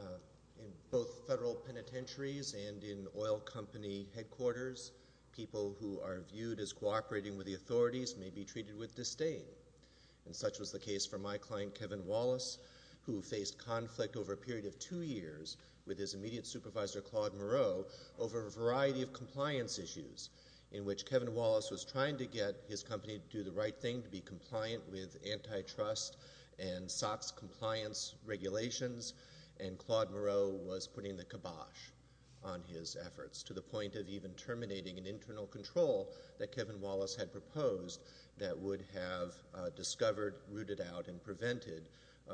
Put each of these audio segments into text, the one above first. In both federal penitentiaries and in oil company headquarters, people who are viewed as cooperating with the authorities may be treated with disdain. And such was the case for my client Kevin Wallace who faced conflict over a period of two years with his immediate supervisor Claude Moreau over a variety of compliance issues in which Kevin Wallace was trying to get his company to do the right thing, to be compliant with antitrust and SOX compliance regulations. And Claude Moreau was putting the kibosh on his efforts to the point of even terminating an internal control that Kevin Wallace had proposed that would have discovered, rooted out, and prevented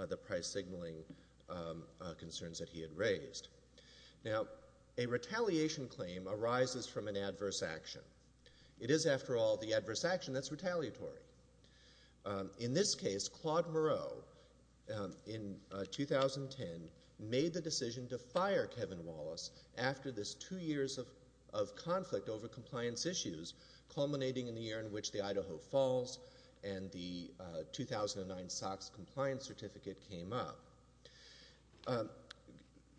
the price signaling concerns that he had raised. Now, a retaliation claim arises from an adverse action. It is, after all, the adverse action that's retaliatory. In this case, Claude Moreau, in 2010, made the decision to fire Kevin Wallace after this two years of conflict over compliance issues culminating in the year in which the Idaho Falls and the 2009 SOX compliance certificate came up.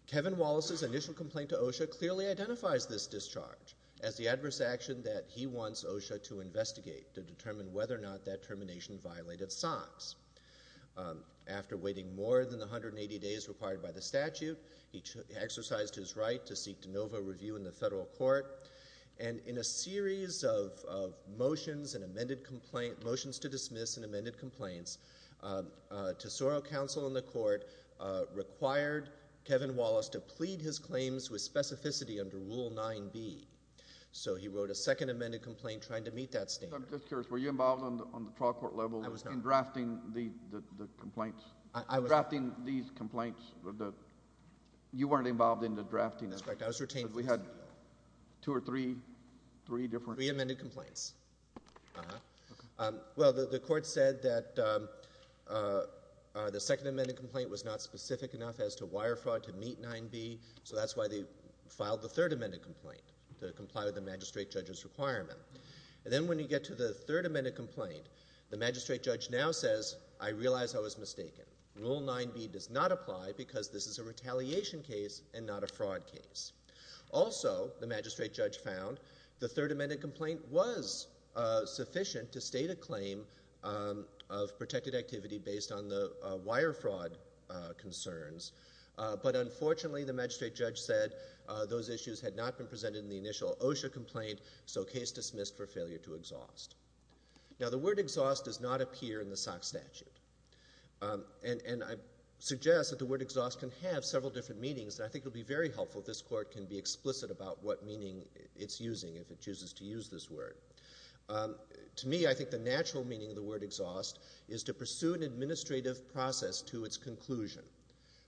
Kevin Wallace's initial complaint to OSHA clearly identifies this discharge. As the adverse action that he wants OSHA to investigate, to determine whether or not that termination violated SOX. After waiting more than 180 days required by the statute, he exercised his right to seek de novo review in the federal court. And in a series of motions and amended complaint, motions to dismiss and amended complaints, Tesoro Council in the court required Kevin Wallace to plead his claims with specificity under Rule 9B. So he wrote a second amended complaint trying to meet that standard. I'm just curious, were you involved on the trial court level in drafting the complaints? I was. Drafting these complaints that you weren't involved in the drafting of. That's correct. I was retained. We had two or three, three different. Three amended complaints. Uh-huh. Okay. Well, the court said that the second amended complaint was not specific enough as to wire fraud to meet 9B. So that's why they filed the third amended complaint, to comply with the magistrate judge's requirement. And then when you get to the third amended complaint, the magistrate judge now says, I realize I was mistaken. Rule 9B does not apply because this is a retaliation case and not a fraud case. Also, the magistrate judge found the third amended complaint was sufficient to state a claim of protected activity based on the wire fraud concerns. But unfortunately, the magistrate judge said those issues had not been presented in the initial OSHA complaint. So case dismissed for failure to exhaust. Now, the word exhaust does not appear in the SOX statute. And I suggest that the word exhaust can have several different meanings. And I think it would be very helpful if this court can be explicit about what meaning it's using if it chooses to use this word. To me, I think the natural meaning of the word exhaust is to pursue an administrative process to its conclusion.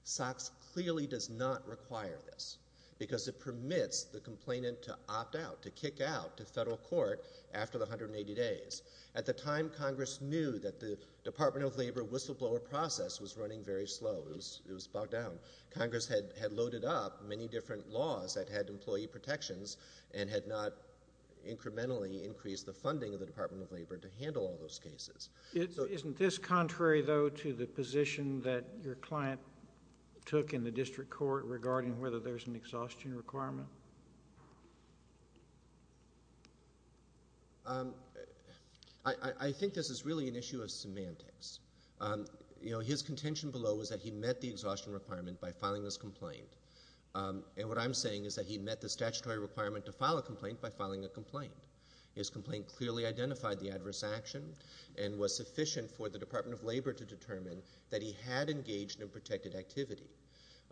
SOX clearly does not require this because it permits the complainant to opt out, to kick out to federal court after the 180 days. At the time, Congress knew that the Department of Labor whistleblower process was running very slow. It was bogged down. Congress had loaded up many different laws that had employee protections and had not incrementally increased the funding of the Department of Labor to handle all those cases. Isn't this contrary, though, to the position that your client took in the district court regarding whether there's an exhaustion requirement? I think this is really an issue of semantics. You know, his contention below was that he met the exhaustion requirement by filing this complaint. And what I'm saying is that he met the statutory requirement to file a complaint by filing a complaint. His complaint clearly identified the adverse action and was sufficient for the Department of Labor to determine that he had engaged in protected activity.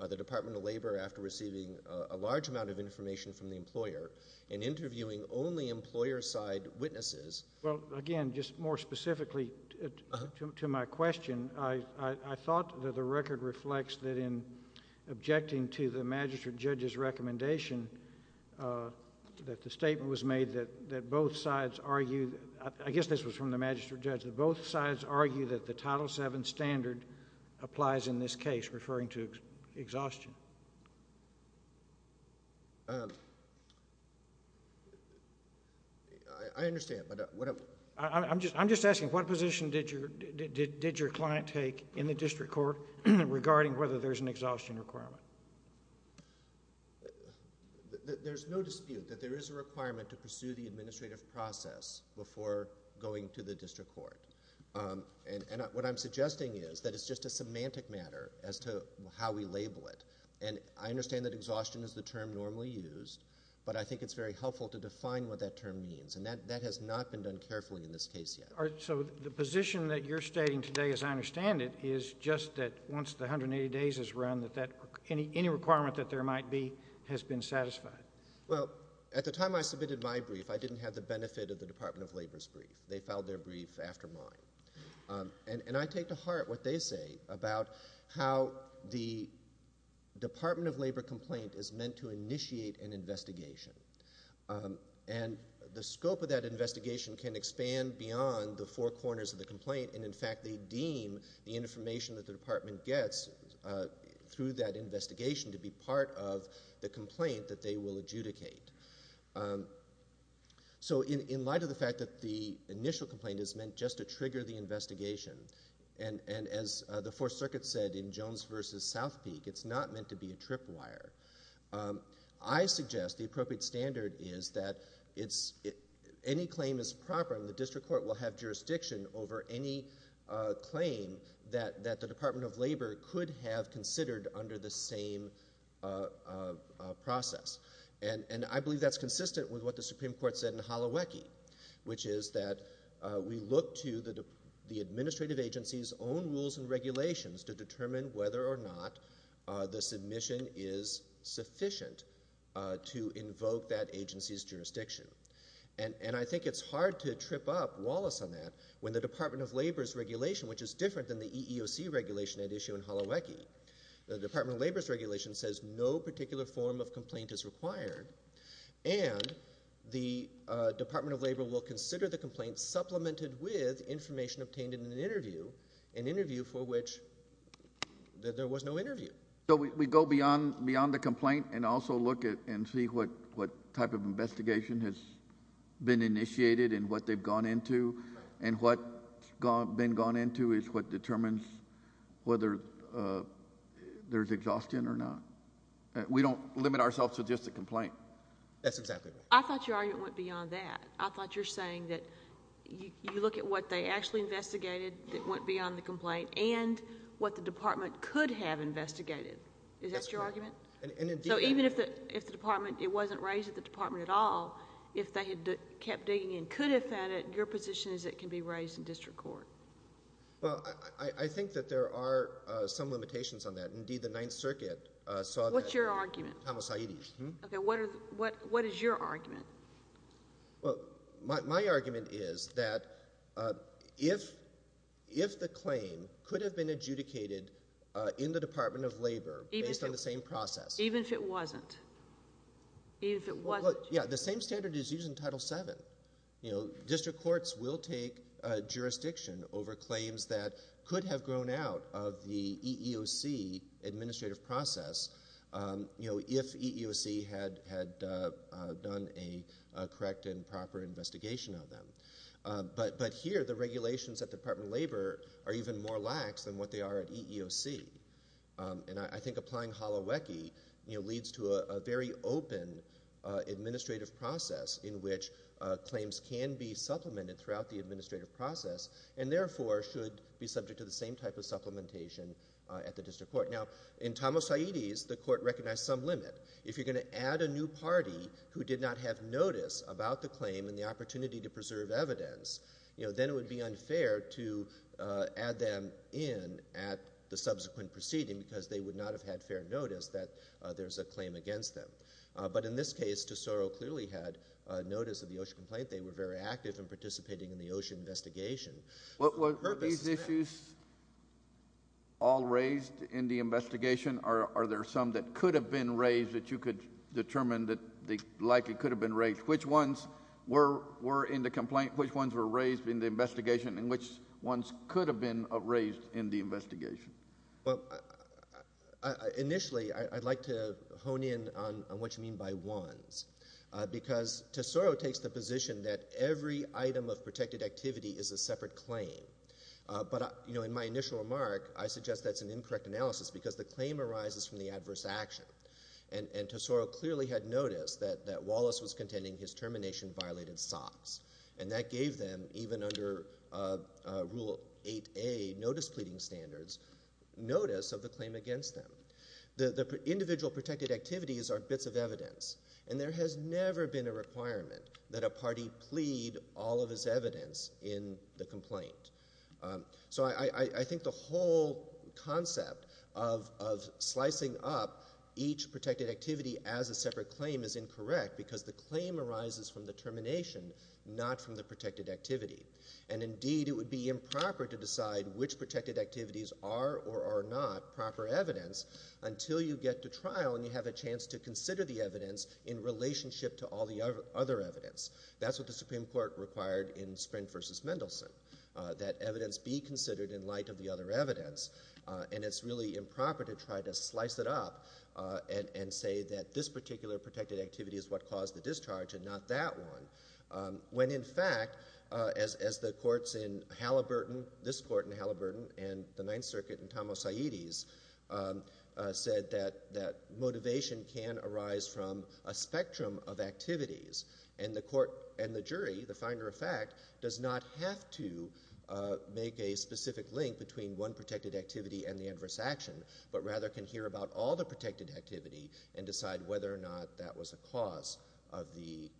The Department of Labor, after receiving a large amount of information from the employer and interviewing only employer-side witnesses. Well, again, just more specifically to my question, I thought that the record reflects that in objecting to the magistrate judge's recommendation that the statement was made that both sides argued, I guess this was from the magistrate judge, that both sides argued that the Title VII standard applies in this case, referring to exhaustion. I understand, but what... I'm just asking what position did your client take in the district court regarding whether there's an exhaustion requirement? There's no dispute that there is a requirement to pursue the administrative process before going to the district court. And what I'm suggesting is that it's just a semantic matter as to how we label it. And I understand that exhaustion is the term normally used, but I think it's very helpful to define what that term means. And that has not been done carefully in this case yet. So the position that you're stating today, as I understand it, is just that once the 180 days is run, that any requirement that there might be has been satisfied? Well, at the time I submitted my brief, I didn't have the benefit of the Department of Labor's brief. They filed their brief after mine. And I take to heart what they say about how the Department of Labor complaint is meant to initiate an investigation. And the scope of that investigation can expand beyond the four corners of the complaint. And in fact, they deem the information that the department gets through that investigation to be part of the complaint that they will adjudicate. So in light of the fact that the initial complaint is meant just to trigger the investigation, and as the Fourth Circuit said in Jones versus South Peak, it's not meant to be a tripwire. I suggest the appropriate standard is that any claim is proper and the district court will have jurisdiction over any claim that the Department of Labor could have considered under the same process. And I believe that's consistent with what the Supreme Court said in Holowecki, which is that we look to the administrative agency's own rules and regulations to determine whether or not the submission is sufficient to invoke that agency's jurisdiction. And I think it's hard to trip up Wallace on that when the Department of Labor's regulation, which is different than the EEOC regulation at issue in Holowecki, the Department of Labor's regulation says no particular form of complaint is required. And the Department of Labor will consider the complaint supplemented with information obtained in an interview, an interview for which there was no interview. So we go beyond the complaint and also look and see what type of investigation has been initiated and what they've gone into. And what's been gone into is what determines whether or not there's exhaustion or not. We don't limit ourselves to just a complaint. That's exactly right. I thought your argument went beyond that. I thought you're saying that you look at what they actually investigated that went beyond the complaint and what the department could have investigated. Is that your argument? And so even if the department, it wasn't raised at the department at all, if they had kept digging and could have found it, your position is it can be raised in district court. Well, I think that there are some limitations on that. Indeed, the Ninth Circuit saw that. What's your argument? Tom Saeedi's. Okay. What is your argument? Well, my argument is that if the claim could have been adjudicated in the Department of Labor based on the same process. Even if it wasn't? Even if it wasn't? Well, yeah. The same standard is used in Title VII. You know, district courts will take jurisdiction over claims that could have grown out of the EEOC administrative process, you know, if EEOC had done a correct and proper investigation of them. But here, the regulations at the Department of Labor are even more lax than what they are at EEOC. And I think applying Holowecki, you know, leads to a very open administrative process in which claims can be supplemented throughout the administrative process and therefore should be subject to the same type of supplementation at the district court. Now, in Tom Saeedi's, the court recognized some limit. If you're going to add a new party who did not have notice about the claim and the opportunity to preserve evidence, you know, then it would be unfair to add them in at the subsequent proceeding because they would not have had fair notice that there's a claim against them. But in this case, Tesoro clearly had notice of the OSHA complaint. They were very active in participating in the OSHA investigation. Were these issues all raised in the investigation? Are there some that could have been raised that you could determine that they likely could have been raised? Which ones were in the complaint? Which ones were raised in the investigation? And which ones could have been raised in the investigation? Well, initially, I'd like to hone in on what you mean by ones because Tesoro takes the position that every item of protected activity is a separate claim. But, you know, in my initial remark, I suggest that's an incorrect analysis because the claim arises from the adverse action. And Tesoro clearly had notice that Wallace was contending his termination violated SOPS. And that gave them, even under Rule 8A, notice pleading standards, notice of the claim against them. The individual protected activities are bits of evidence, and there has never been a requirement that a party plead all of his evidence in the complaint. So I think the whole concept of slicing up each protected activity as a separate claim is incorrect because the claim arises from the termination, not from the protected activity. And indeed, it would be improper to decide which protected activities are or are not proper evidence until you get to trial and you have a chance to consider the evidence in relationship to all the other evidence. That's what the Supreme Court required in Sprint versus Mendelsohn, that evidence be considered in light of the other evidence. And it's really improper to try to slice it up and say that this particular protected activity is what caused the discharge and not that one. When, in fact, as the courts in Halliburton, this court in Halliburton and the Ninth Circuit and Tom Osaites said that motivation can arise from a spectrum of activities. And the court and the jury, the finder of fact, does not have to make a specific link between one protected activity and the adverse action, but rather can hear about all the protected activity and decide whether or not that was a cause of the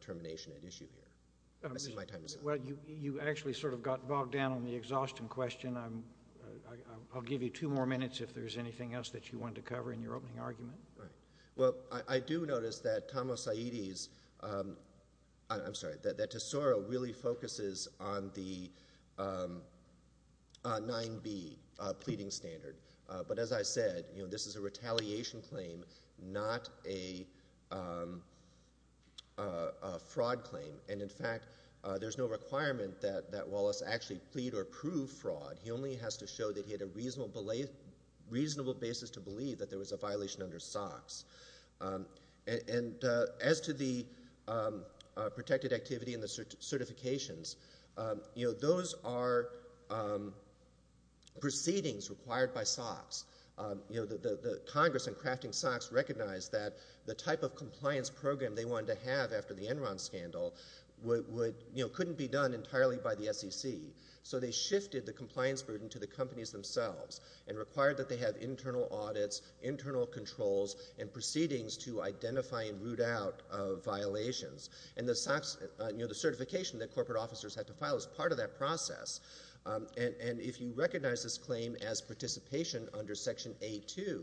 termination at issue here. I'm wasting my time. Well, you actually sort of got bogged down on the exhaustion question. I'll give you two more minutes if there's anything else that you want to cover in your opening argument. Right. Well, I do notice that Tom Osaites, I'm sorry, that Tesoro really focuses on the 9B pleading standard. But as I said, you know, this is a retaliation claim, not a fraud claim. And in fact, there's no requirement that Wallace actually plead or prove fraud. He only has to show that he had a reasonable basis to believe that there was a violation under SOX. And as to the protected activity and the certifications, you know, those are proceedings required by SOX. You know, the Congress in crafting SOX recognized that the type of compliance program they wanted to have after the Enron scandal would, you know, couldn't be done entirely by the SEC. So they shifted the compliance burden to the companies themselves and required that they have internal audits, internal controls, and proceedings to identify and root out violations. And the SOX, you know, the certification that corporate officers had to file is part of that process. And if you recognize this claim as participation under Section A2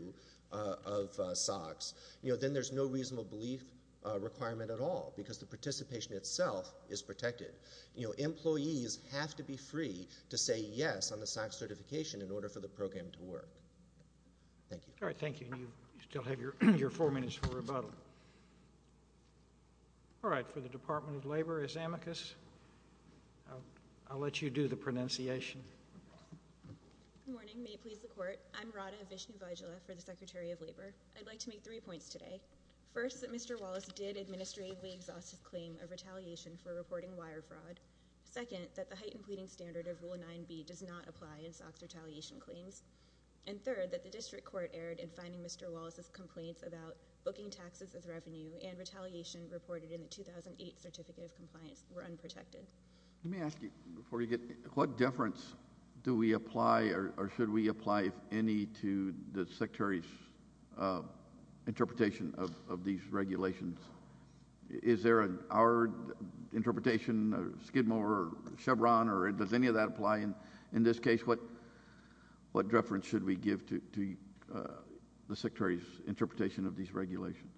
of SOX, you know, then there's no reasonable belief requirement at all because the participation itself is protected. You know, employees have to be free to say yes on the SOX certification in order for the program to work. Thank you. All right. Thank you. And you still have your four minutes for rebuttal. All right. For the Department of Labor, as amicus, I'll let you do the pronunciation. Good morning. May it please the Court. I'm Radha Vishnu Vajula for the Secretary of Labor. I'd like to make three points today. First, that Mr. Wallace did administratively exhaust his claim of retaliation for reporting wire fraud. Second, that the heightened pleading standard of Rule 9b does not apply in SOX retaliation claims. And third, that the district court erred in finding Mr. Wallace's complaints about booking taxes as revenue and retaliation reported in the 2008 Certificate of Compliance were unprotected. Let me ask you before you get, what difference do we apply or should we apply any to the Secretary's interpretation of these regulations? Is there an, our interpretation, Skidmore or Chevron, or does any of that apply in this case? What, what deference should we give to the Secretary's interpretation of these regulations?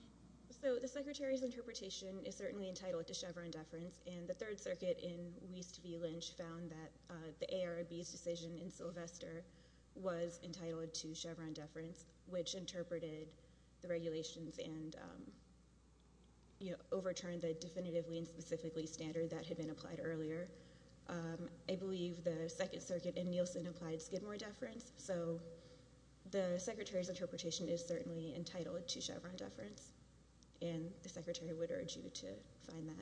So, the Secretary's interpretation is certainly entitled to Chevron deference, and the Third Circuit in Wiest v. Lynch found that the ARB's decision in Sylvester was entitled to Chevron deference, which interpreted the regulations and, you know, overturned the definitively and specifically standard that had been applied earlier. I believe the Second Circuit in Nielsen applied Skidmore deference. So, the Secretary's interpretation is certainly entitled to Chevron deference, and the Secretary would urge you to find that.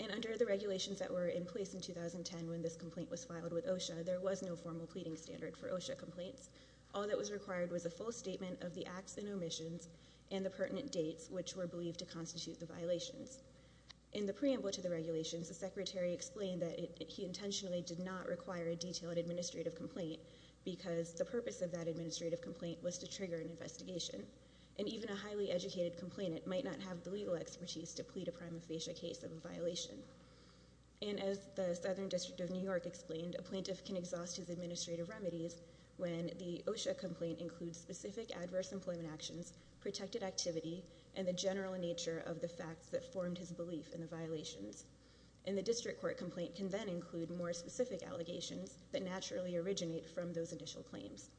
And under the regulations that were in place in 2010 when this complaint was filed with OSHA, there was no formal pleading standard for OSHA complaints. All that was required was a full statement of the acts and omissions and the pertinent dates, which were believed to constitute the violations. In the preamble to the regulations, the Secretary explained that he intentionally did not require a detailed administrative complaint because the purpose of that administrative complaint was to trigger an investigation. And even a highly educated complainant might not have the legal expertise to plead a prima facie case of a violation. And as the Southern District of New York explained, a plaintiff can exhaust his administrative remedies when the OSHA complaint includes specific adverse employment actions, protected activity, and the general nature of the facts that formed his belief in the violations. And the district court complaint can then include more specific allegations that naturally originate from those initial claims.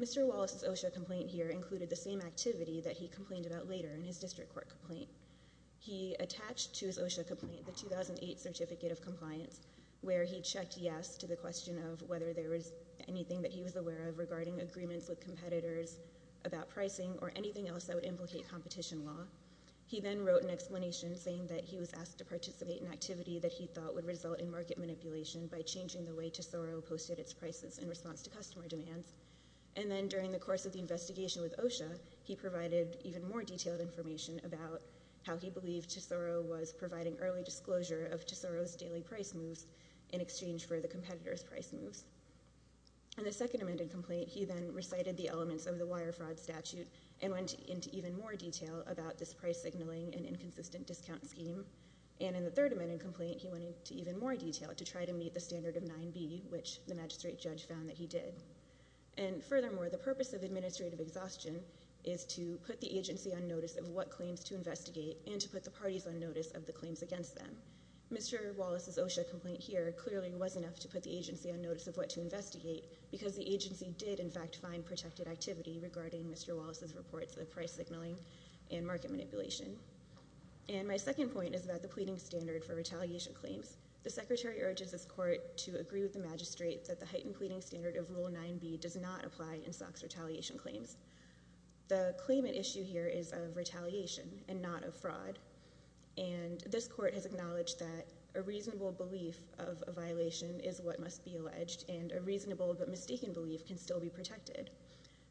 Mr. Wallace's OSHA complaint here included the same activity that he complained about later in his district court complaint. He attached to his OSHA complaint the 2008 Certificate of Compliance, where he checked yes to the question of whether there was anything that he was aware of regarding agreements with competitors about pricing or anything else that would implicate competition law. He then wrote an explanation saying that he was asked to participate in activity that he thought would result in market manipulation by changing the way to SORO posted its prices in response to customer demands. And then during the course of the investigation with OSHA, he provided even more detailed information about how he believed to SORO was providing early disclosure of to SORO's daily price moves in exchange for the competitor's price moves. In the second amended complaint, he then recited the elements of the wire fraud statute and went into even more detail about this price signaling and inconsistent discount scheme. And in the third amended complaint, he went into even more detail to try to meet the standard of 9B, which the magistrate judge found that he did. And furthermore, the purpose of administrative exhaustion is to put the agency on notice of what claims to investigate and to put the parties on notice of the claims against them. Mr. Wallace's OSHA complaint here clearly was enough to put the agency on notice of what to investigate because the agency did in fact find protected activity regarding Mr. Wallace's reports of price signaling and market manipulation. And my second point is about the pleading standard for retaliation claims. The secretary urges his court to agree with the magistrate that the heightened pleading standard of Rule 9B does not apply in SOX retaliation claims. The claimant issue here is of retaliation and not of fraud. And this court has acknowledged that a reasonable belief of a violation is what must be alleged and a reasonable but mistaken belief can still be protected.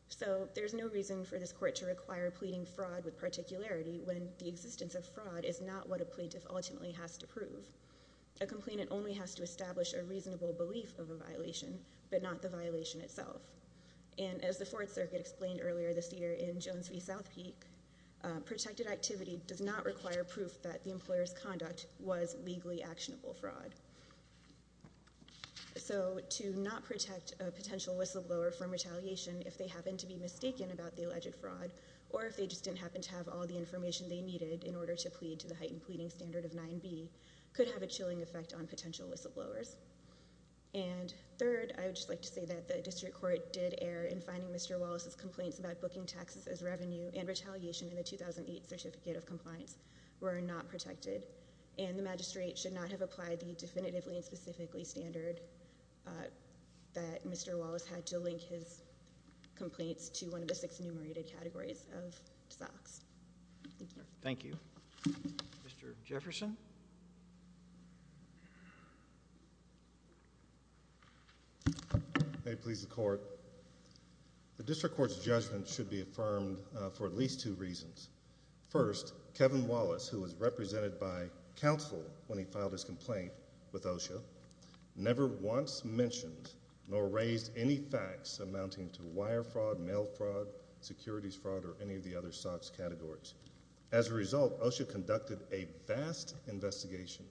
So there's no reason for this court to require pleading fraud with particularity when the existence of fraud is not what a plaintiff ultimately has to prove. A complainant only has to establish a reasonable belief of a violation but not the violation itself. And as the Fourth Circuit explained earlier this year in Jones v. South Peak, protected activity does not require proof that the employer's conduct was legally actionable fraud. So to not protect a potential whistleblower from retaliation if they happen to be mistaken about the alleged fraud or if they just didn't happen to have all the information they needed in order to plead to the heightened pleading standard of 9B could have a chilling effect on potential whistleblowers. And third, I would just like to say that the district court did err in finding Mr. Wallace's complaints about booking taxes as revenue and retaliation in the 2008 Certificate of Compliance were not protected. And the magistrate should not have applied the definitively and specifically standard that Mr. Wallace had to link his complaints to one of the six enumerated categories of SOCs. Thank you. Mr. Jefferson. May it please the court. The district court's judgment should be affirmed for at least two reasons. First, Kevin Wallace, who was represented by counsel when he filed his complaint with OSHA, never once mentioned nor raised any facts amounting to wire fraud, mail fraud, securities fraud, or any of the other SOCs categories. As a result, OSHA conducted a vast investigation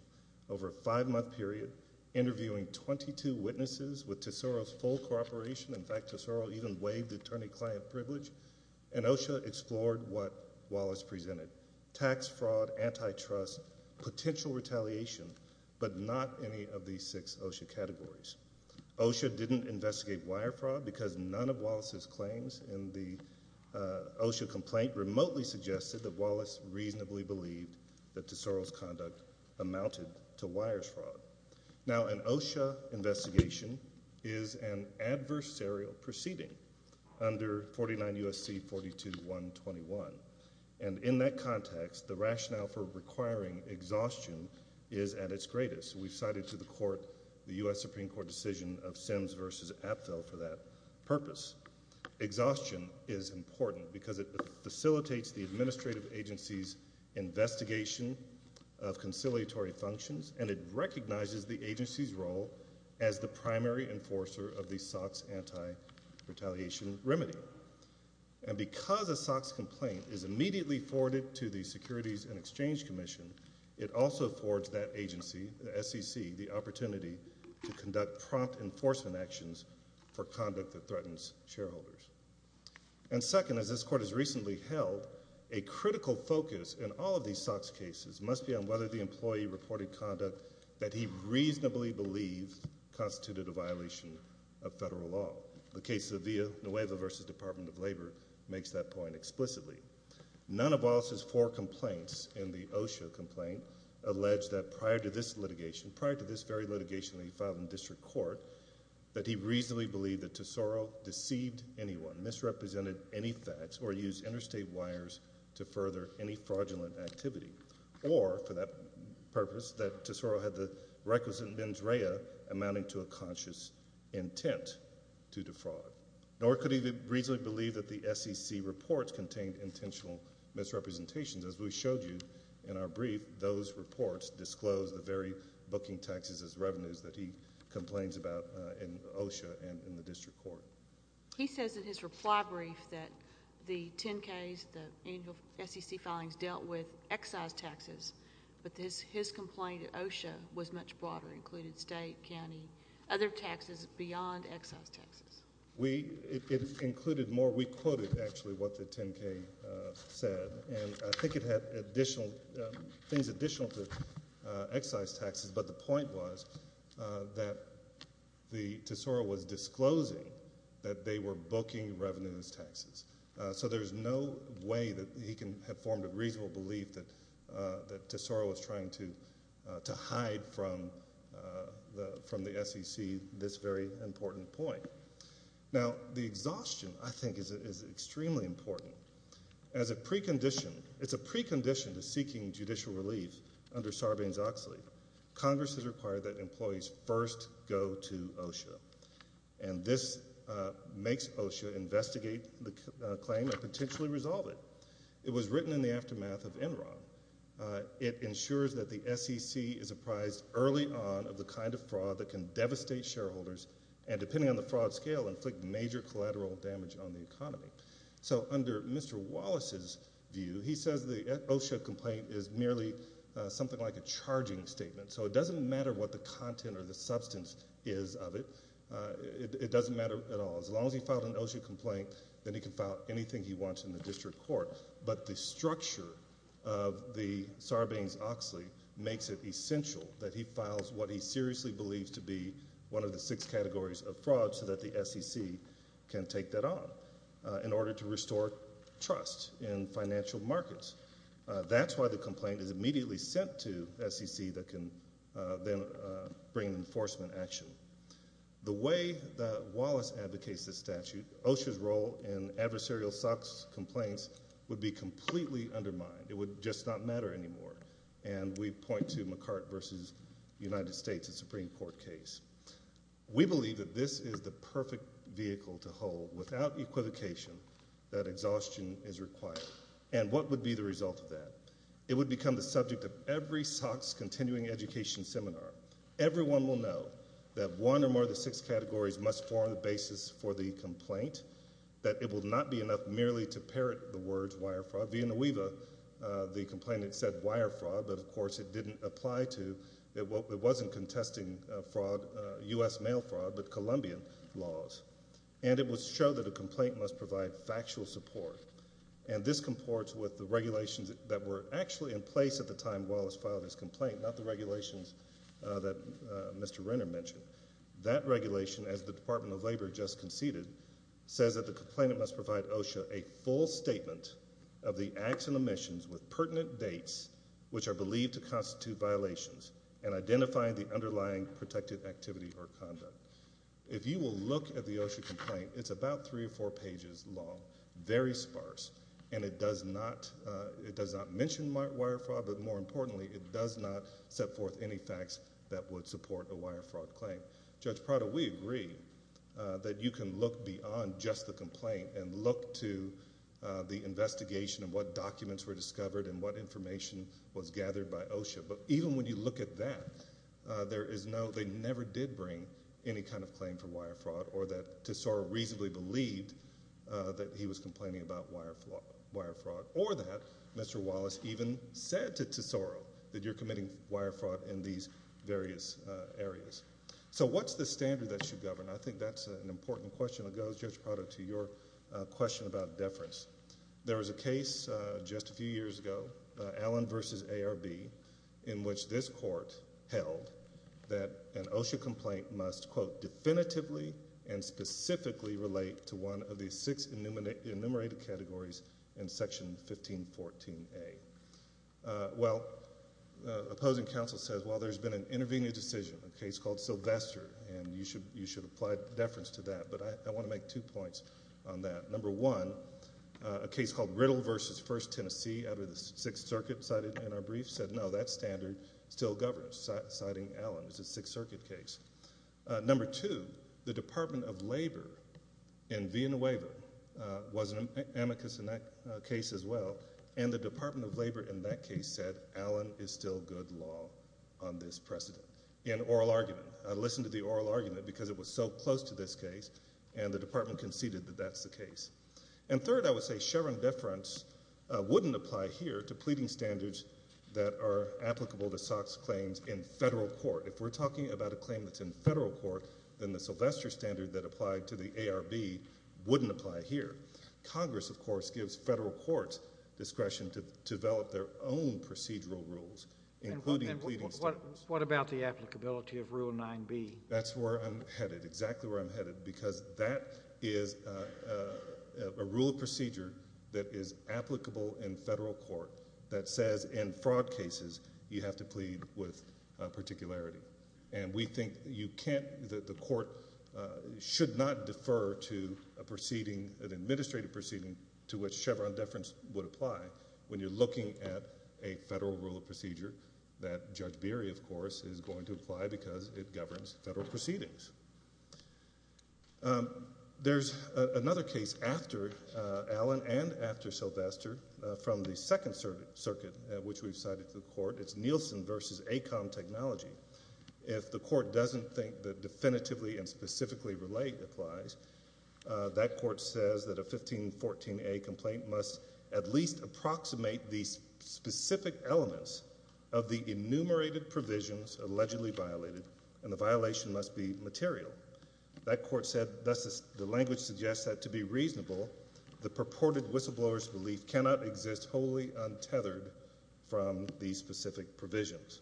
over a five-month period, interviewing 22 witnesses with Tesoro's full cooperation. In fact, Tesoro even waived attorney-client privilege. And OSHA explored what Wallace presented. Tax fraud, antitrust, potential retaliation, but not any of these six OSHA categories. OSHA didn't investigate wire fraud because none of Wallace's claims in the OSHA complaint remotely suggested that Wallace reasonably believed that Tesoro's conduct amounted to wires fraud. Now, an OSHA investigation is an adversarial proceeding under 49 U.S.C. 42-121. And in that context, the rationale for requiring exhaustion is at its greatest. We've cited to the court the U.S. Supreme Court decision of Sims v. Apfel for that purpose. Exhaustion is important because it facilitates the administrative agency's investigation of conciliatory functions, and it recognizes the agency's role as the primary enforcer of the SOCs anti-retaliation remedy. And because a SOCs complaint is immediately forwarded to the Securities and Exchange Commission, it also affords that agency, the SEC, the opportunity to conduct prompt enforcement actions for conduct that threatens shareholders. And second, as this court has recently held, a critical focus in all of these SOCs cases must be on whether the employee reported conduct that he reasonably believed constituted a violation of federal law. The case of Villanueva v. Department of Labor makes that point explicitly. None of Wallace's four complaints in the OSHA complaint allege that prior to this litigation, prior to this very litigation that he filed in district court, that he reasonably believed that Tesoro deceived anyone, misrepresented any facts, or used interstate wires to further any fraudulent activity. Or, for that purpose, that Tesoro had the requisite mens rea amounting to a conscious intent to defraud. Nor could he reasonably believe that the SEC reports contained intentional misrepresentations. As we showed you in our brief, those reports disclose the very booking taxes as revenues that he complains about in OSHA and in the district court. He says in his reply brief that the 10-Ks, the annual SEC filings, dealt with excise taxes. But his complaint at OSHA was much broader, included state, county, other taxes beyond excise taxes. It included more. We quoted, actually, what the 10-K said. And I think it had additional, things additional to excise taxes. But the point was that Tesoro was disclosing that they were booking revenues taxes. So there's no way that he can have formed a reasonable belief that Tesoro was trying to hide from the SEC this very important point. Now, the exhaustion, I think, is extremely important. As a precondition, it's a precondition to seeking judicial relief under Sarbanes-Oxley. Congress has required that employees first go to OSHA. And this makes OSHA investigate the claim and potentially resolve it. It was written in the aftermath of Enron. It ensures that the SEC is apprised early on of the kind of fraud that can devastate shareholders, and depending on the fraud scale, inflict major collateral damage on the economy. So under Mr. Wallace's view, he says the OSHA complaint is merely something like a charging statement. So it doesn't matter what the content or the substance is of it. It doesn't matter at all. As long as he filed an OSHA complaint, then he can file anything he wants in the district court. But the structure of the Sarbanes-Oxley makes it essential that he files what he seriously believes to be one of the six categories of fraud so that the SEC can take that on in order to restore trust in financial markets. That's why the complaint is immediately sent to SEC that can then bring enforcement action. The way that Wallace advocates this statute, OSHA's role in adversarial SOX complaints would be completely undermined. It would just not matter anymore. And we point to McCart versus United States in Supreme Court case. We believe that this is the perfect vehicle to hold without equivocation that exhaustion is required. And what would be the result of that? It would become the subject of every SOX continuing education seminar. Everyone will know that one or more of the six categories must form the basis for the complaint, that it will not be enough merely to parrot the words wire fraud. Via Naweeva, the complainant said wire fraud, but of course it didn't apply to. It wasn't contesting fraud, U.S. mail fraud, but Colombian laws. And it would show that a complaint must provide factual support. And this comports with the regulations that were actually in place at the time Wallace filed his complaint, not the regulations that Mr. Renner mentioned. That regulation, as the Department of Labor just conceded, says that the complainant must provide OSHA a full statement of the acts and omissions with pertinent dates, which are believed to constitute violations, and identifying the underlying protected activity or conduct. If you will look at the OSHA complaint, it's about three or four pages long, very sparse. And it does not, it does not mention wire fraud, but more importantly, it does not set forth any facts that would support a wire fraud claim. Judge Prado, we agree that you can look beyond just the complaint and look to the investigation of what documents were discovered and what information was gathered by OSHA. But even when you look at that, there is no, they never did bring any kind of claim for wire fraud, or that Tesoro reasonably believed that he was complaining about wire fraud, or that Mr. Wallace even said to Tesoro that you're committing wire fraud in these various areas. So what's the standard that should govern? I think that's an important question. It goes, Judge Prado, to your question about deference. There was a case just a few years ago, Allen v. ARB, in which this court held that an OSHA complaint must, quote, definitively and specifically relate to one of the six enumerated categories in Section 1514A. Well, opposing counsel says, well there's been an intervening decision, a case called Sylvester, and you should apply deference to that. But I want to make two points on that. Number one, a case called Riddle v. First Tennessee out of the Sixth Circuit cited in our brief said, no, that standard still governs, citing Allen, it's a Sixth Circuit case. Number two, the Department of Labor in Vienna Waiver was an amicus in that case as well, and the Department of Labor in that case said, Allen is still good law on this precedent, in oral argument. I listened to the oral argument because it was so close to this case, and the department conceded that that's the case. And third, I would say, Chevron deference wouldn't apply here to pleading standards that are applicable to SOX claims in federal court. If we're talking about a claim that's in federal court, then the Sylvester standard that applied to the ARB wouldn't apply here. Congress, of course, gives federal courts discretion to develop their own procedural rules, including pleading standards. What about the applicability of Rule 9b? That's where I'm headed, exactly where I'm headed, because that is a rule of procedure that is applicable in federal court that says in fraud cases, you have to plead with particularity. And we think you can't, that the court should not defer to a proceeding, an administrative proceeding to which Chevron deference would apply when you're looking at a federal rule of procedure that Judge Beery, of course, is going to apply because it governs federal proceedings. There's another case after Allen and after Sylvester from the Second Circuit, which we've cited to the court. It's Nielsen versus AECOM technology. If the court doesn't think that definitively and specifically relate applies, that court says that a 1514A complaint must at least approximate the specific elements of the enumerated provisions allegedly violated, and the violation must be material. That court said, thus the language suggests that to be reasonable, the purported whistleblower's belief cannot exist wholly untethered from these specific provisions.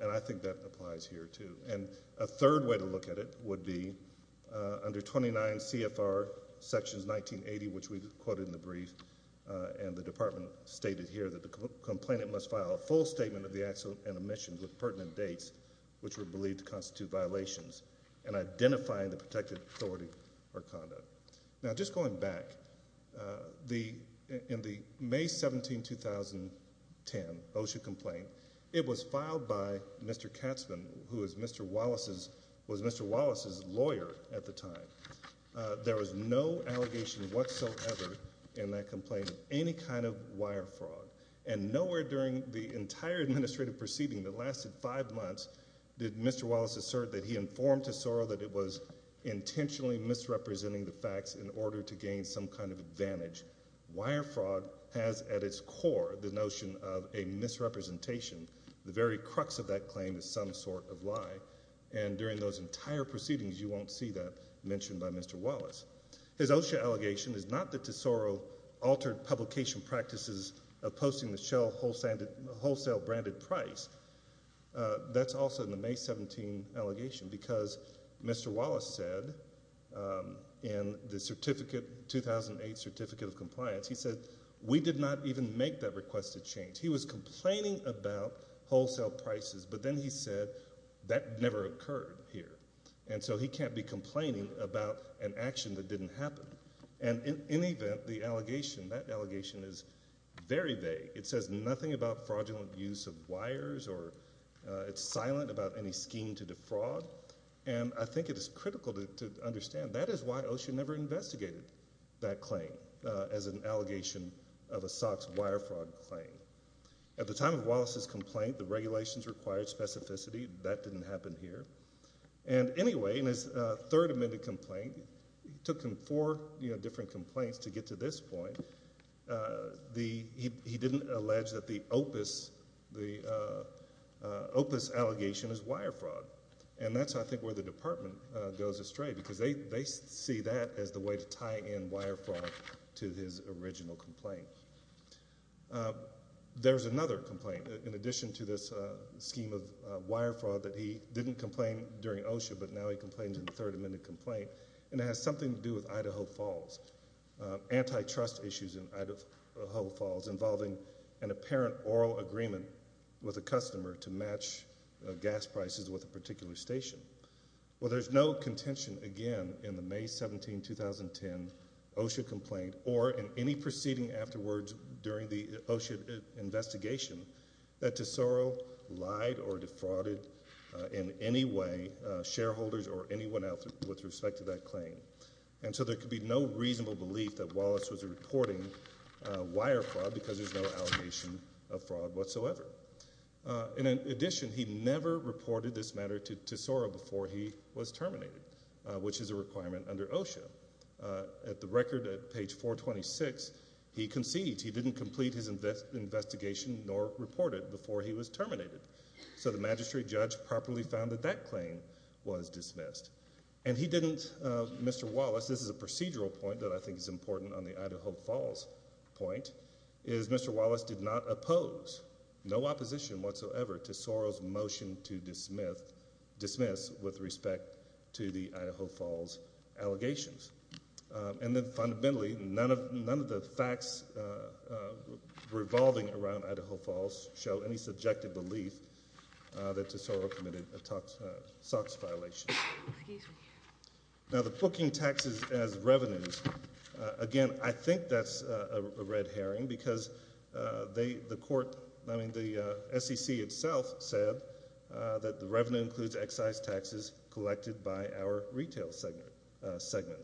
And I think that applies here, too. And a third way to look at it would be under 29 CFR sections, 1980, which we quoted in the brief, and the department stated here that the complainant must file a full statement of the actual and omissions with pertinent dates, which were believed to constitute violations, and identifying the protected authority or conduct. Now, just going back, in the May 17, 2010 OSHA complaint, it was filed by Mr. Katzman, who was Mr. Wallace's lawyer at the time. There was no allegation whatsoever in that complaint of any kind of wire fraud. And nowhere during the entire administrative proceeding that lasted five months did Mr. Wallace assert that he informed to Sorrell that it was intentionally misrepresenting the facts in order to gain some kind of advantage. Wire fraud has, at its core, the notion of a misrepresentation. The very crux of that claim is some sort of lie. And during those entire proceedings, you won't see that mentioned by Mr. Wallace. His OSHA allegation is not that to Sorrell altered publication practices of posting the shell wholesale branded price. That's also in the May 17 allegation, because Mr. Wallace said in the certificate, 2008 Certificate of Compliance, he said we did not even make that request to change. He was complaining about wholesale prices, but then he said that never occurred here. And so he can't be complaining about an action that didn't happen. And in any event, the allegation, that allegation is very vague. It says nothing about fraudulent use of wires, or it's silent about any scheme to defraud. And I think it is critical to understand. That is why OSHA never investigated that claim as an allegation of a SOX wire fraud claim. At the time of Wallace's complaint, the regulations required specificity. That didn't happen here. And anyway, in his third amended complaint, he took him four, you know, different complaints to get to this point, the, he didn't allege that the opus, the opus allegation is wire fraud. And that's, I think, where the department goes astray, because they see that as the way to tie in wire fraud to his original complaint. There's another complaint, in addition to this scheme of wire fraud, that he didn't complain during OSHA, but now he complains in the third amended complaint. And it has something to do with Idaho Falls. Antitrust issues in Idaho Falls involving an apparent oral agreement with a customer to match gas prices with a particular station. Well, there's no contention, again, in the May 17, 2010 OSHA complaint, or in any proceeding afterwards during the OSHA investigation that Tesoro lied or defrauded in any way shareholders or anyone else with respect to that claim. And so there could be no reasonable belief that Wallace was reporting wire fraud, because there's no allegation of fraud whatsoever. In addition, he never reported this matter to Tesoro before he was terminated, which is a requirement under OSHA. At the record, at page 426, he concedes. He didn't complete his investigation nor report it before he was terminated. So the magistrate judge properly found that that claim was dismissed. And he didn't, Mr. Wallace, this is a procedural point that I think is important on the Idaho Falls point, is Mr. Wallace did not oppose. No opposition whatsoever to Tesoro's motion to dismiss with respect to the Idaho Falls allegations. And then fundamentally, none of the facts revolving around Idaho Falls show any subjective belief that Tesoro committed a SOX violation. Now, the booking taxes as revenues, again, I think that's a red herring, because they, the court, I mean, the SEC itself said that the revenue includes excise taxes collected by our retail segment.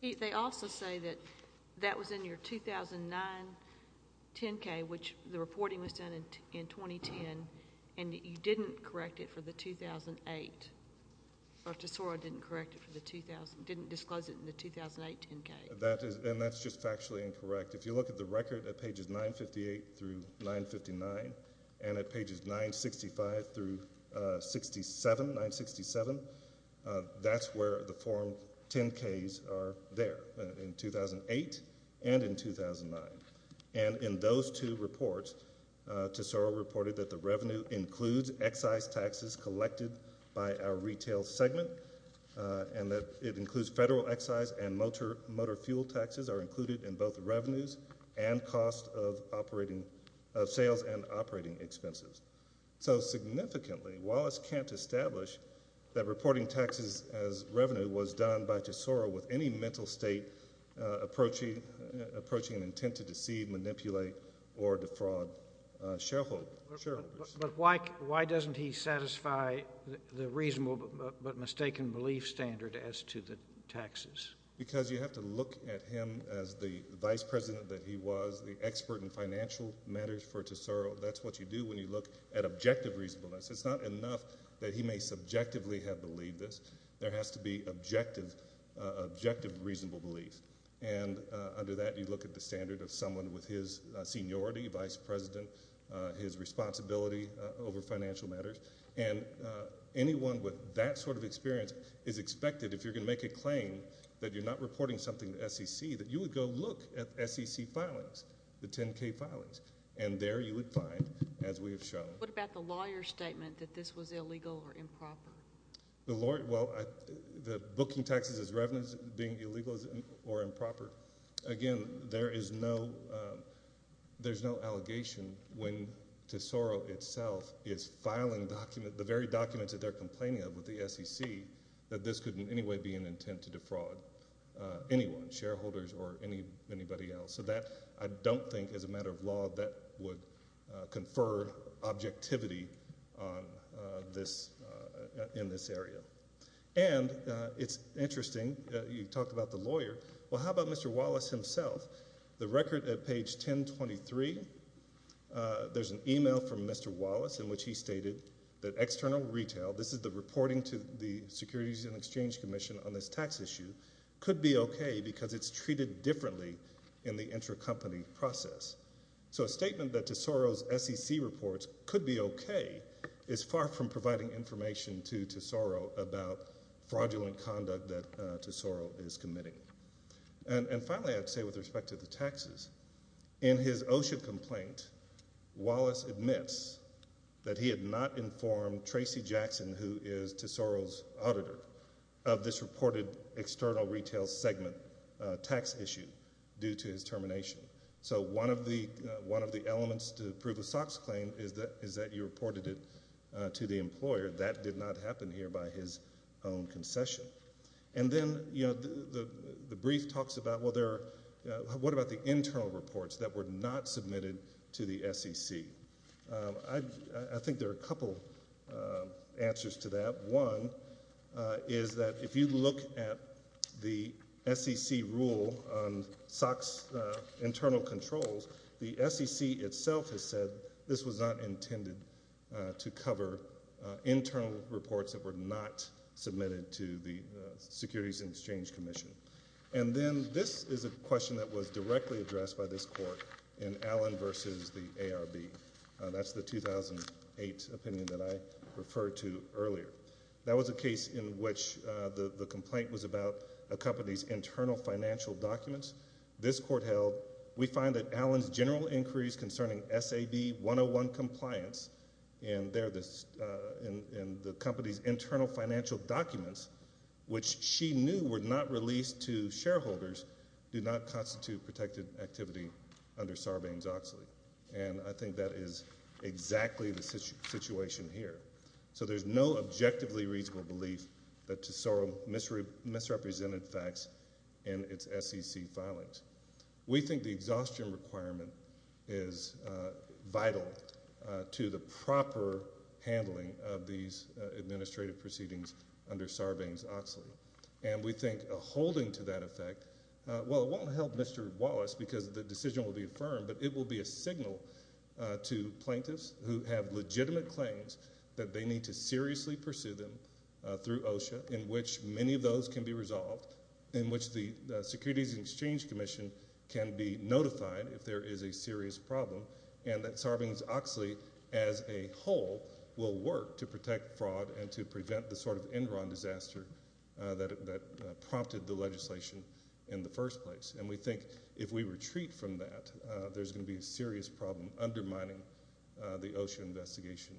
They also say that that was in your 2009 10-K, which the reporting was done in 2010, and that you didn't correct it for the 2008. Dr. Tesoro didn't correct it for the 2000, didn't disclose it in the 2008 10-K. And that's just factually incorrect. If you look at the record at pages 958 through 959, and at pages 965 through 67, 967, that's where the form 10-Ks are there, in 2008 and in 2009. And in those two reports, Tesoro reported that the revenue includes excise taxes collected by our retail segment, and that it includes federal excise and motor fuel taxes are included in both revenues and cost of operating, of sales and operating expenses. So, significantly, Wallace can't establish that reporting taxes as revenue was done by Tesoro with any mental state approach, approaching an intent to deceive, manipulate, or defraud shareholders. But why doesn't he satisfy the reasonable, but mistaken belief standard as to the taxes? Because you have to look at him as the vice president that he was, the expert in financial matters for Tesoro. That's what you do when you look at objective reasonableness. It's not enough that he may subjectively have believed this. There has to be objective, objective, reasonable belief. And under that, you look at the standard of someone with his seniority, vice president, his responsibility over financial matters. And anyone with that sort of experience is expected, if you're going to make a claim that you're not reporting something to SEC, that you would go look at SEC filings, the 10K filings. And there you would find, as we have shown. What about the lawyer's statement that this was illegal or improper? The lawyer, well, the booking taxes as revenues being illegal or improper. Again, there is no, there's no allegation when Tesoro itself is filing document, the very documents that they're complaining of with the SEC, that this could in any way be an intent to defraud anyone, shareholders or anybody else. So that, I don't think, as a matter of law, that would confer objectivity on this, in this area. And it's interesting, you talked about the lawyer. Well, how about Mr. Wallace himself? The record at page 1023, there's an email from Mr. Wallace in which he stated that external retail, this is the reporting to the Securities and Exchange Commission on this tax issue, could be okay because it's treated differently in the intercompany process. So a statement that Tesoro's SEC reports could be okay is far from providing information to Tesoro about fraudulent conduct that Tesoro is committing. And finally, I'd say with respect to the taxes, in his OSHA complaint, Wallace admits that he had not informed Tracy Jackson, who is Tesoro's auditor, of this reported external retail segment tax issue due to his termination. So one of the elements to prove a SOX claim is that you reported it to the employer. That did not happen here by his own concession. And then, you know, the brief talks about, well, there are, what about the internal reports that were not submitted to the SEC? I think there are a couple answers to that. One is that if you look at the SEC rule on SOX internal controls, the SEC itself has said this was not intended to cover internal reports that were not submitted to the Securities and Exchange Commission. And then this is a question that was directly addressed by this court in Allen versus the ARB. That's the 2008 opinion that I referred to earlier. That was a case in which the complaint was about a company's internal financial documents. This court held, we find that Allen's general inquiries concerning SAB 101 compliance in the company's internal financial documents, which she knew were not released to shareholders, do not constitute protected activity under Sarbanes-Oxley. And I think that is exactly the situation here. So there's no objectively reasonable belief that Tesoro misrepresented facts in its SEC filings. We think the exhaustion requirement is vital to the proper handling of these administrative proceedings under Sarbanes-Oxley. And we think a holding to that effect, well, it won't help Mr. Wallace because the decision will be to signal to plaintiffs who have legitimate claims that they need to seriously pursue them through OSHA, in which many of those can be resolved, in which the Securities and Exchange Commission can be notified if there is a serious problem. And that Sarbanes-Oxley as a whole will work to protect fraud and to prevent the sort of Enron disaster that prompted the legislation in the first place. And we think if we retreat from that, there's going to be a serious problem undermining the OSHA investigation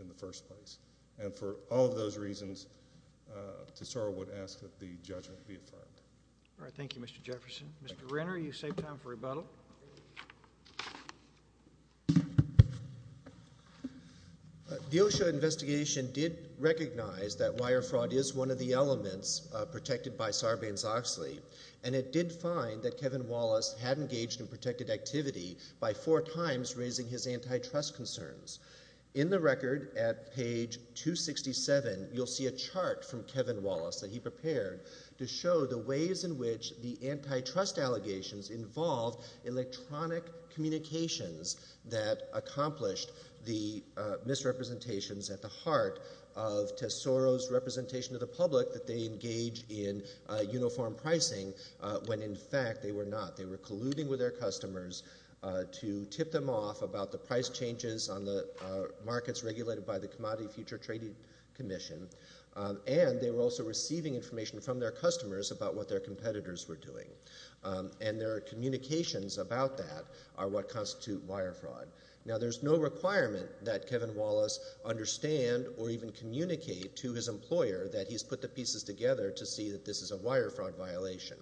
in the first place. And for all of those reasons, Tesoro would ask that the judgment be affirmed. All right. Thank you, Mr. Jefferson. Mr. Renner, you saved time for rebuttal. The OSHA investigation did recognize that wire fraud is one of the elements protected by Sarbanes-Oxley. And it did find that Kevin Wallace had engaged in protected activity by four times raising his antitrust concerns. In the record at page 267, you'll see a chart from Kevin Wallace that he prepared to show the ways in which the antitrust allegations involved electronic communications that accomplished the misrepresentations at the heart of Tesoro's representation of the public that they engage in uniform pricing, when in fact they were not. And they were using their customers to tip them off about the price changes on the markets regulated by the Commodity Futures Trading Commission. And they were also receiving information from their customers about what their competitors were doing. And their communications about that are what constitute wire fraud. Now, there's no requirement that Kevin Wallace understand or even communicate to his employer that he's put the pieces together to see that this is a wire fraud violation.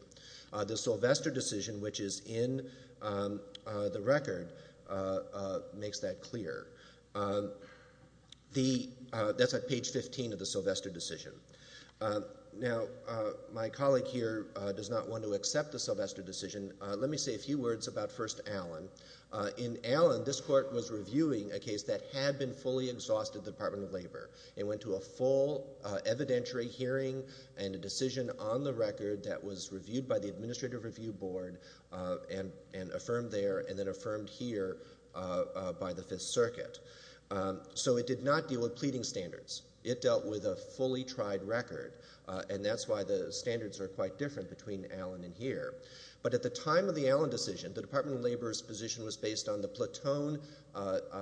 The Sylvester decision, which is in the record, makes that clear. That's at page 15 of the Sylvester decision. Now, my colleague here does not want to accept the Sylvester decision. Let me say a few words about First Allen. In Allen, this court was reviewing a case that had been fully exhausted at the Department of Labor. It went to a full evidentiary hearing and a decision on the record that was reviewed by the Administrative Review Board and affirmed there and then affirmed here by the Fifth Circuit. So it did not deal with pleading standards. It dealt with a fully tried record. And that's why the standards are quite different between Allen and here. But at the time of the Allen decision, the Department of Labor's position was based on the Platoon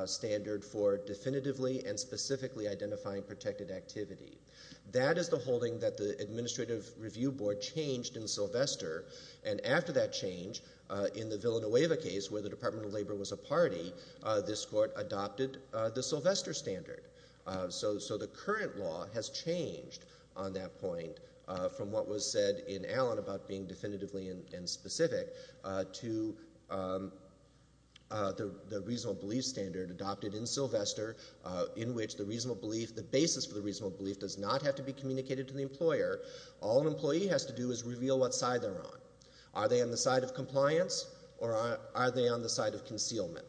standard for definitively and specifically identifying protected activity. That is the holding that the Administrative Review Board changed in Sylvester. And after that change, in the Villanueva case, where the Department of Labor was a party, this court adopted the Sylvester standard. So the current law has changed on that point from what was said in Allen about being definitively and specific to the reasonable belief standard adopted in Sylvester, in which the reasonable belief, the basis for the reasonable belief does not have to be communicated to the employer. All an employee has to do is reveal what side they're on. Are they on the side of compliance or are they on the side of concealment?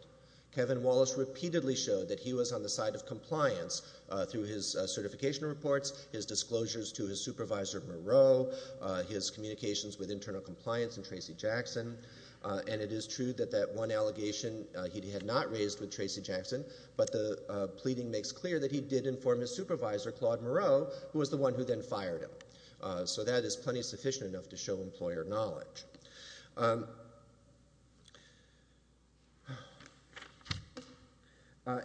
Kevin Wallace repeatedly showed that he was on the side of compliance through his certification reports, his disclosures to his supervisor, Moreau, his communications with internal compliance and Tracy Jackson. And it is true that that one allegation he had not raised with Tracy Jackson, but the pleading makes clear that he did inform his supervisor, Claude Moreau, who was the one who then fired him. So that is plenty sufficient enough to show employer knowledge.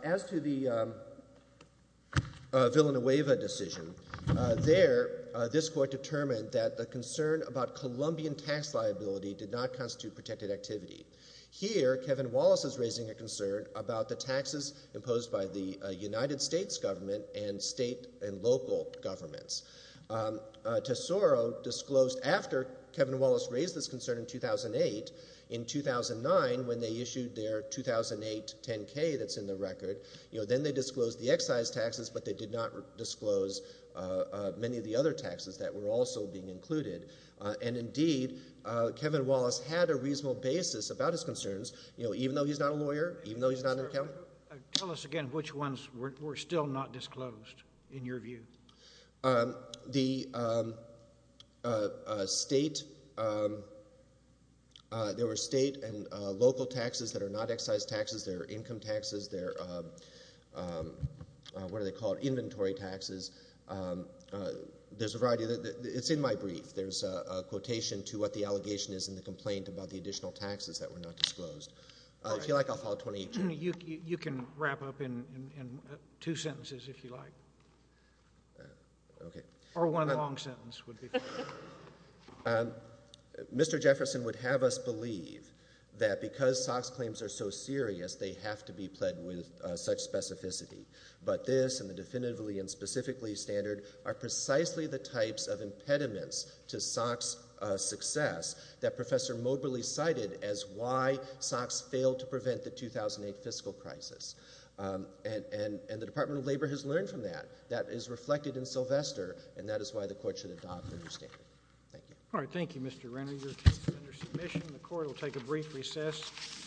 As to the Villanueva decision, there, this court determined that the concern about Colombian tax liability did not constitute protected activity. Here, Kevin Wallace is raising a concern about the taxes imposed by the United States government and state and local governments. Tesoro disclosed after Kevin Wallace raised this concern in 2008, in 2009 when they issued their 2008 10-K that's in the record, you know, then they disclosed the excise taxes, but they did not disclose many of the other taxes that were also being included. And indeed, Kevin Wallace had a reasonable basis about his concerns, you know, even though he's not a lawyer, even though he's not an accountant. Tell us again, which ones were still not disclosed in your view? The state, there were state and local taxes that are not excise taxes. There are income taxes. There are, what do they call it, inventory taxes. There's a variety of, it's in my brief, there's a quotation to what the allegation is and the complaint about the additional taxes that were not disclosed. If you like, I'll follow 28-2. You can wrap up in two sentences if you like. Okay. Or one long sentence would be fine. Mr. Jefferson would have us believe that because SOX claims are so serious, they have to be pled with such specificity, but this and the definitively and specifically standard are precisely the types of impediments to SOX success that Professor Moberly cited as why SOX failed to prevent the 2008 fiscal crisis. And the Department of Labor has learned from that. That is reflected in Sylvester and that is why the court should adopt the new standard. Thank you. All right. Thank you, Mr. Renner. Your case is under submission. The court will take a brief recess.